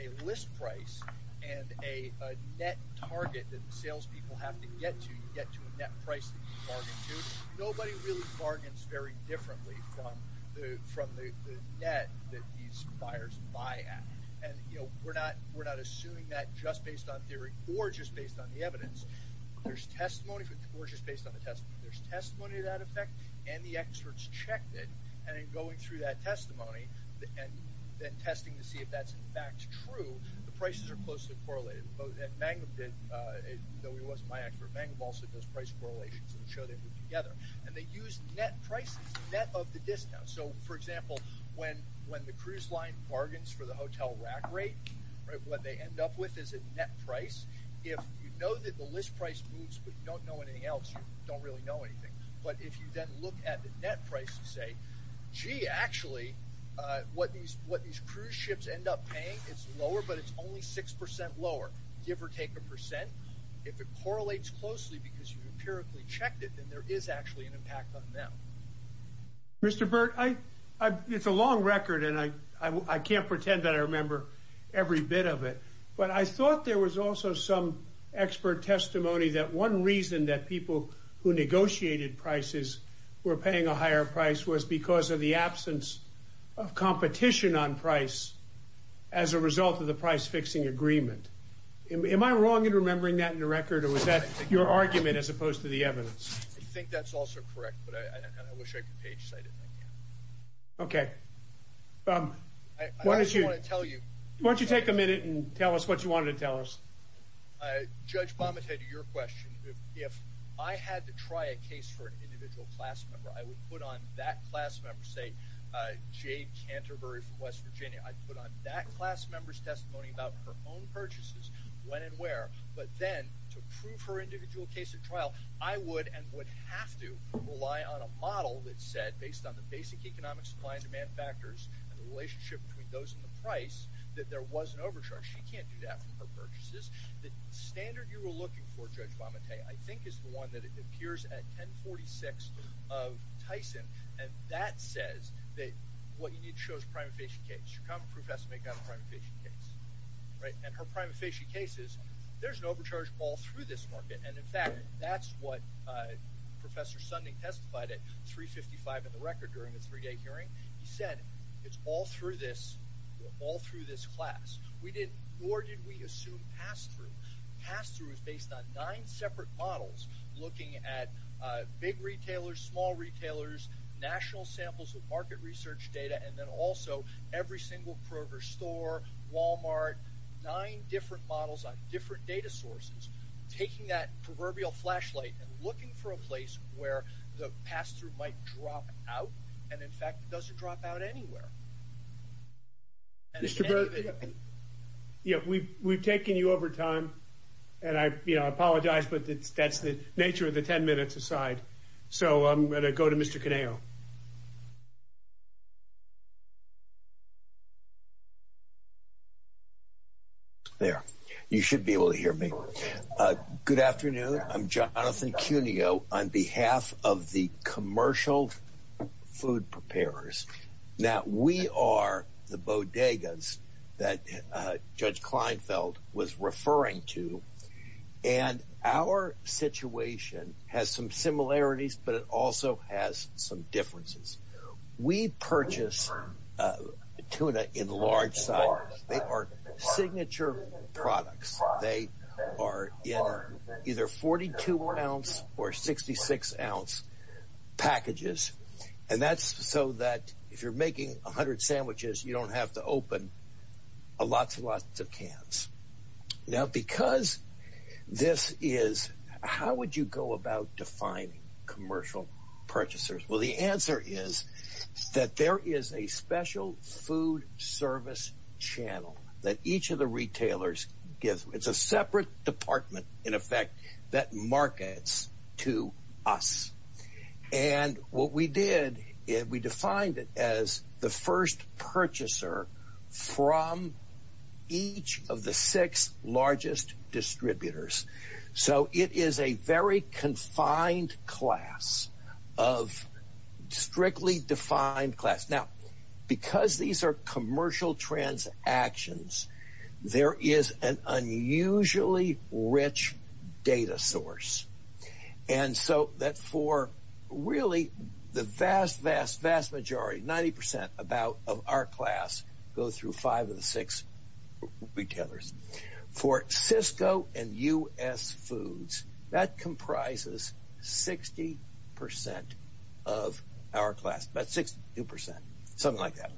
a list price and a net target that the salespeople have to get to, you get to a net price that you bargain to. Nobody really bargains very differently from the net that these buyers buy at. And, you know, we're not assuming that just based on theory or just based on the evidence. There's testimony, or just based on the test. There's testimony to that effect, and the experts checked it. And in going through that testimony and then testing to see if that's in fact true, the prices are closely correlated. Though he wasn't my expert, Mangum also does price correlations to show they work together. And they use net prices, net of the discount. So, for example, when the cruise line bargains for the hotel rack rate, what they end up with is a net price. If you know that the list price moves, but you don't know anything else, you don't really know anything. But if you then look at the net price and say, gee, actually, what these cruise ships end up paying, it's lower, but it's only 6% lower, give or take a percent. If it correlates closely because you empirically checked it, then there is actually an impact on them. Mr. Burt, it's a long record, and I can't remember every bit of it, but I thought there was also some expert testimony that one reason that people who negotiated prices were paying a higher price was because of the absence of competition on price as a result of the price-fixing agreement. Am I wrong in remembering that in the record, or was that your argument as opposed to the evidence? I think that's also correct, but I wish I could page-cite it. Okay. Why don't you take a minute and tell us what you wanted to tell us. Judge Bomette, to your question, if I had to try a case for an individual class member, I would put on that class member, say, Jade Canterbury from West Virginia, I'd put on that class member's testimony about her own purchases, when and where, but then to prove her individual case at trial, I would and would have to rely on a model that said, based on the basic economic supply and demand factors and the relationship between those and the price, that there was an overcharge. She can't do that from her purchases. The standard you were looking for, Judge Bomette, I think is the one that appears at 1046 of Tyson, and that says that what you need to show is prima facie case. Your common proof has to make that a prima facie case, right? And her prima facie case is, there's an overcharge all through this market, and in fact, that's what Professor Sunding testified at 355 in the record during the three-day hearing. He said, it's all through this, all through this class. We didn't, nor did we assume pass-through. Pass-through is based on nine separate models looking at big retailers, small retailers, national samples with market research data, and then also every single Kroger store, Walmart, nine different models on different data sources, taking that proverbial flashlight and looking for a place where the pass-through might drop out, and in fact, it doesn't drop out anywhere. Mr. Burt, yeah, we've taken you over time, and I apologize, but that's the nature of the 10 minutes aside. So I'm going to go to Mr. Caneo. There. You should be able to hear me. Good afternoon. I'm Jonathan Cuneo on behalf of the commercial food preparers. Now, we are the bodegas that Judge Kleinfeld was referring to, tuna in large sizes. They are signature products. They are in either 42-ounce or 66-ounce packages, and that's so that if you're making 100 sandwiches, you don't have to open lots and lots of cans. Now, because this is, how would you go about defining commercial purchasers? Well, the answer is that there is a special food service channel that each of the retailers gives. It's a separate department, in effect, that markets to us, and what we did is we defined it as the first purchaser from each of the six largest distributors. So it is a very confined class of strictly defined class. Now, because these are commercial transactions, there is an unusually rich data source, and so that for really the vast, vast, vast majority, 90 percent of our class, go through five of the six retailers. For Cisco and U.S. Foods, that comprises 60 percent of our class, about 62 percent, something like that.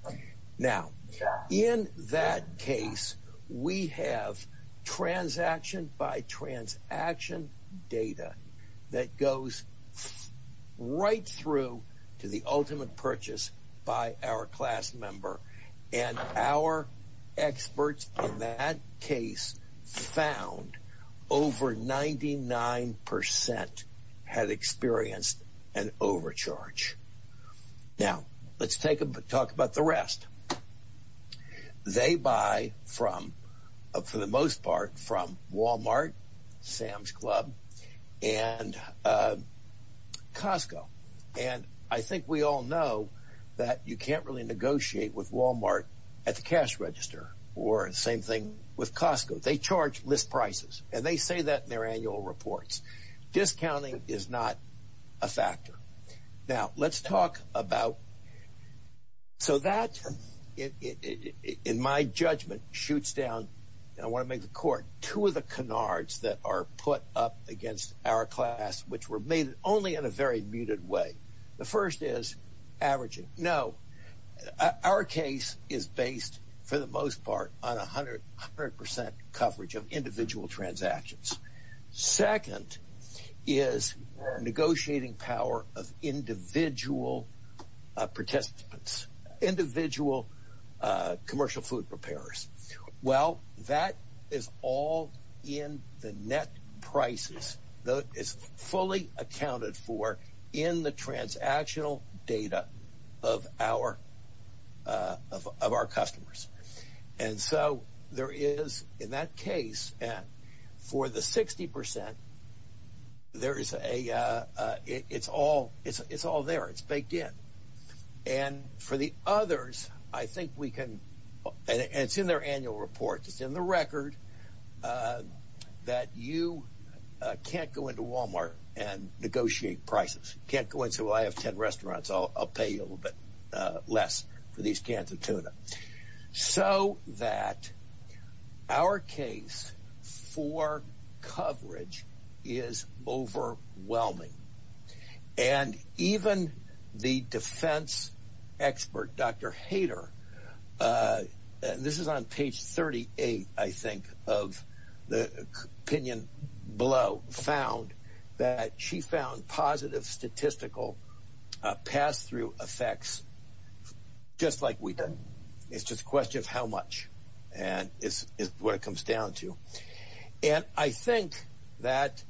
Now, in that case, we have transaction-by-transaction data that goes right through to the ultimate purchase by our class member, and our experts in that case found over 99 percent had experienced an overcharge. Now, let's talk about the rest. They buy from, for the most part, from Walmart, Sam's Club, and Costco, and I think we all know that you can't really negotiate with Walmart at the cash register, or the same thing with Costco. They charge list prices, and they say that in their annual reports. Discounting is not a factor. Now, let's talk about, so that, in my judgment, shoots down, and I want to make the court, two of the canards that are put up against our class, which were made only in a very muted way. The first is averaging. No, our case is based, for the most part, on 100 percent coverage of individual transactions. Second is negotiating power of individual participants, individual commercial food preparers. Well, that is all in the net prices. It's fully accounted for in the transactional data of our customers, and so there is, in that case, for the 60 percent, there is a, it's all there. It's baked in, and for the others, I think we can, and it's in their annual report, it's in the record, that you can't go into Walmart and I'll pay you a little bit less for these cans of tuna. So that our case for coverage is overwhelming, and even the defense expert, Dr. Hader, this is on page 38, I think, of the opinion below, found that she found positive statistical pass-through effects, just like we did. It's just a question of how much, and it's what it comes down to. And I think that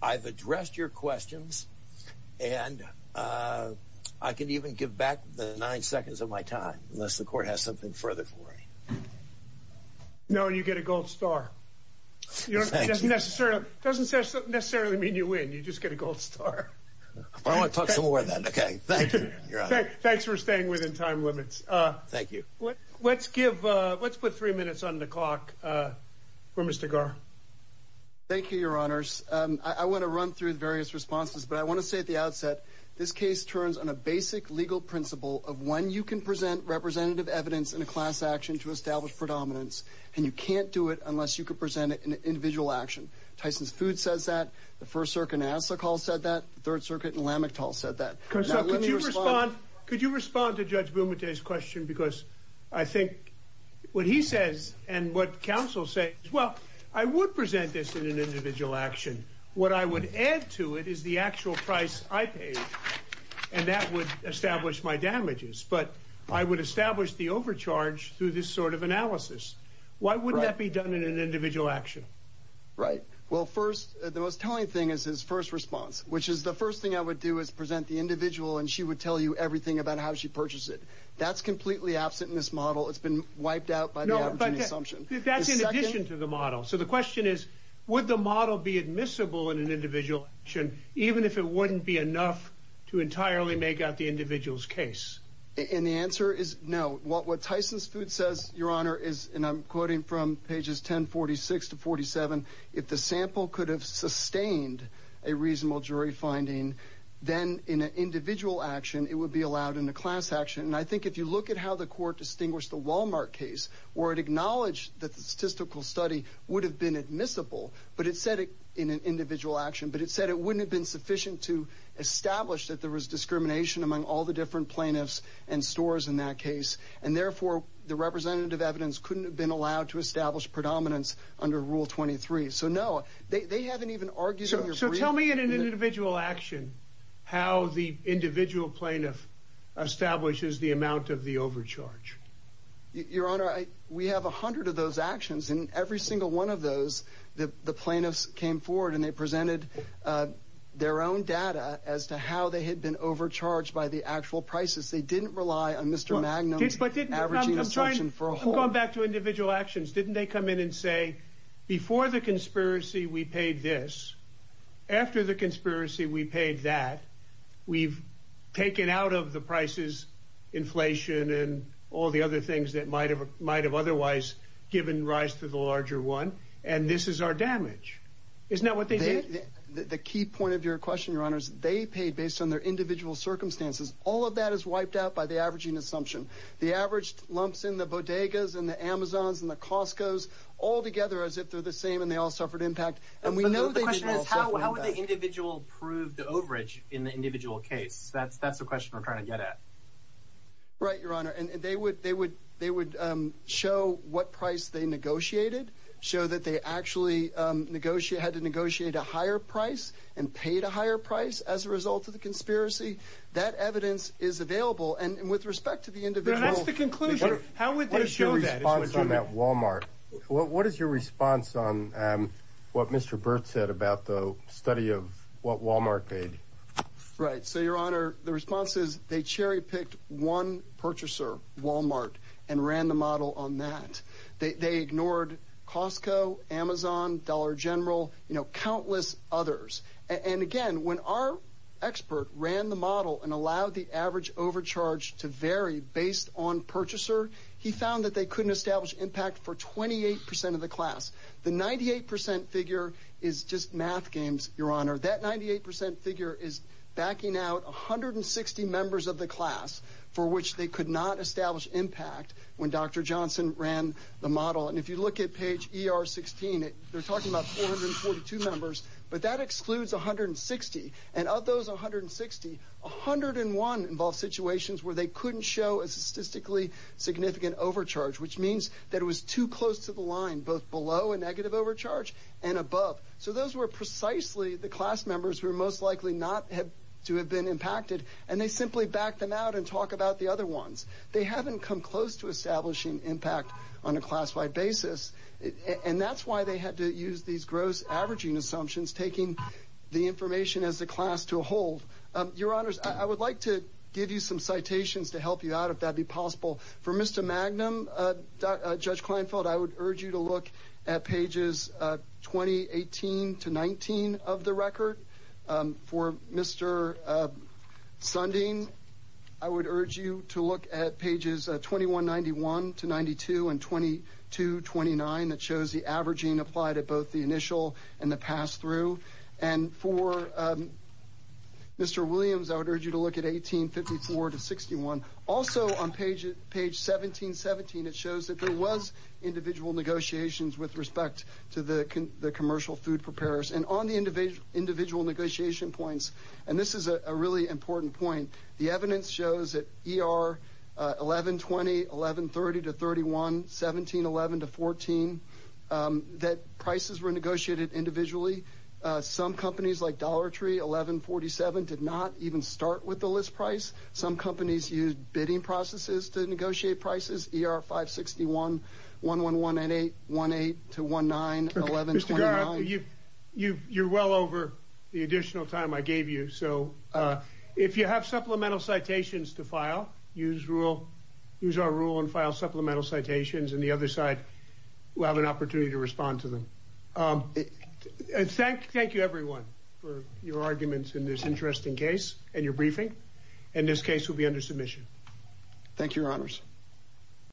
I've addressed your questions, and I can even give back the nine seconds of my time, unless the court has something further for me. No, you get a gold star. You don't necessarily, doesn't necessarily mean you win, you just get a gold star. I want to talk some more then, okay. Thank you, your honor. Thanks for staying within time limits. Thank you. What, let's give, let's put three minutes on the clock for Mr. Gar. Thank you, your honors. I want to run through the various responses, but I want to say at the outset, this case turns on a basic legal principle of when you can present representative evidence in a class action to establish predominance, and you can't do it unless you can present it in an individual action. Tyson's Food says that, the First Circuit in Nassau said that, the Third Circuit in Lamictal said that. Now, let me respond. Could you respond to Judge Boumediere's question, because I think what he says, and what counsel says, well, I would present this in an individual action. What I would add to it is the actual price I paid, and that would establish my damages, but I would establish the overcharge through this sort of analysis. Why wouldn't that be done in an individual action? Right. Well, first, the most telling thing is his first response, which is, the first thing I would do is present the individual, and she would tell you everything about how she purchased it. That's completely absent in this model. It's been wiped out by the average assumption. That's in addition to the model. So the question is, would the model be admissible in an individual action, even if it wouldn't be enough to entirely make out the individual's case? And the answer is, no. What Tyson's Food says, Your Honor, is, and I'm quoting from pages 1046 to 47, if the sample could have sustained a reasonable jury finding, then in an individual action, it would be allowed in a class action. And I think if you look at how the court distinguished the Walmart case, where it acknowledged that the statistical study would have been admissible, but it said it in an individual action, but it said it wouldn't have been sufficient to establish that there was discrimination among all the different plaintiffs, and stores in that case. And therefore, the representative evidence couldn't have been allowed to establish predominance under Rule 23. So no, they haven't even argued. So tell me in an individual action, how the individual plaintiff establishes the amount of the overcharge. Your Honor, we have 100 of those actions, and every single one of those, the plaintiffs came forward and they presented their own data as to how they had been overcharged by the actual prices. They didn't rely on Mr. Magnum. I'm sorry, I'm going back to individual actions. Didn't they come in and say, before the conspiracy, we paid this. After the conspiracy, we paid that. We've taken out of the prices, inflation and all the other things that might have otherwise given rise to the larger one. And this is our damage. Isn't that what they did? The key point of your question, Your Honor, is they paid based on their individual circumstances. All of that is wiped out by the averaging assumption. The averaged lumps in the bodegas and the Amazons and the Costco's, all together as if they're the same and they all suffered impact. And we know the question is, how would the individual prove the overage in the individual case? That's that's the question we're trying to get at. Right, Your Honor. And they would they would they would show what price they negotiated, show that they actually negotiate, had to negotiate a higher price and paid a higher price as a result of the conspiracy. That evidence is available. And with respect to the individual, that's the conclusion. How would they show that on that Walmart? What is your response on what Mr. Burt said about the study of what Walmart paid? Right. So, Your Honor, the response is they cherry picked one purchaser, Walmart, and ran the model on that. They ignored Costco, Amazon, Dollar General, you know, countless others. And again, when our expert ran the model and allowed the average overcharge to vary based on purchaser, he found that they couldn't establish impact for 28 percent of the class. The 98 percent figure is just math games, Your Honor. That 98 percent figure is backing out 160 members of the class for which they could not establish impact when Dr. Johnson ran the model. And if you look at page ER 16, they're talking about 442 members, but that excludes 160. And of those 160, 101 involve situations where they couldn't show a statistically significant overcharge, which means that it was too close to the line, both below a negative overcharge and above. So those were precisely the class members who are most likely not to have been impacted. And they simply backed them out and talk about the other ones. They haven't come close to establishing impact on a class-wide basis. And that's why they had to use these gross averaging assumptions, taking the information as the class to a hold. Your Honors, I would like to give you some citations to help you out, if that'd be possible. For Mr. Magnum, Judge Kleinfeld, I would urge you to look at pages 2018 to 19 of the record For Mr. Sundin, I would urge you to look at pages 2191 to 92 and 2229 that shows the averaging applied at both the initial and the pass-through. And for Mr. Williams, I would urge you to look at 1854 to 61. Also on page 1717, it shows that there was individual negotiations with respect to the commercial food preparers. And on the individual negotiation points, and this is a really important point, the evidence shows that ER 1120, 1130 to 31, 1711 to 14, that prices were negotiated individually. Some companies like Dollar Tree, 1147, did not even start with the list price. Some companies used bidding processes to negotiate prices. ER 561, 11188, 18 to 19, 1129. Mr. Garrett, you're well over the additional time I gave you, so if you have supplemental citations to file, use our rule and file supplemental citations, and the other side will have an opportunity to respond to them. Thank you, everyone, for your arguments in this interesting case and your briefing. And this case will be under submission. Thank you, Your Honors.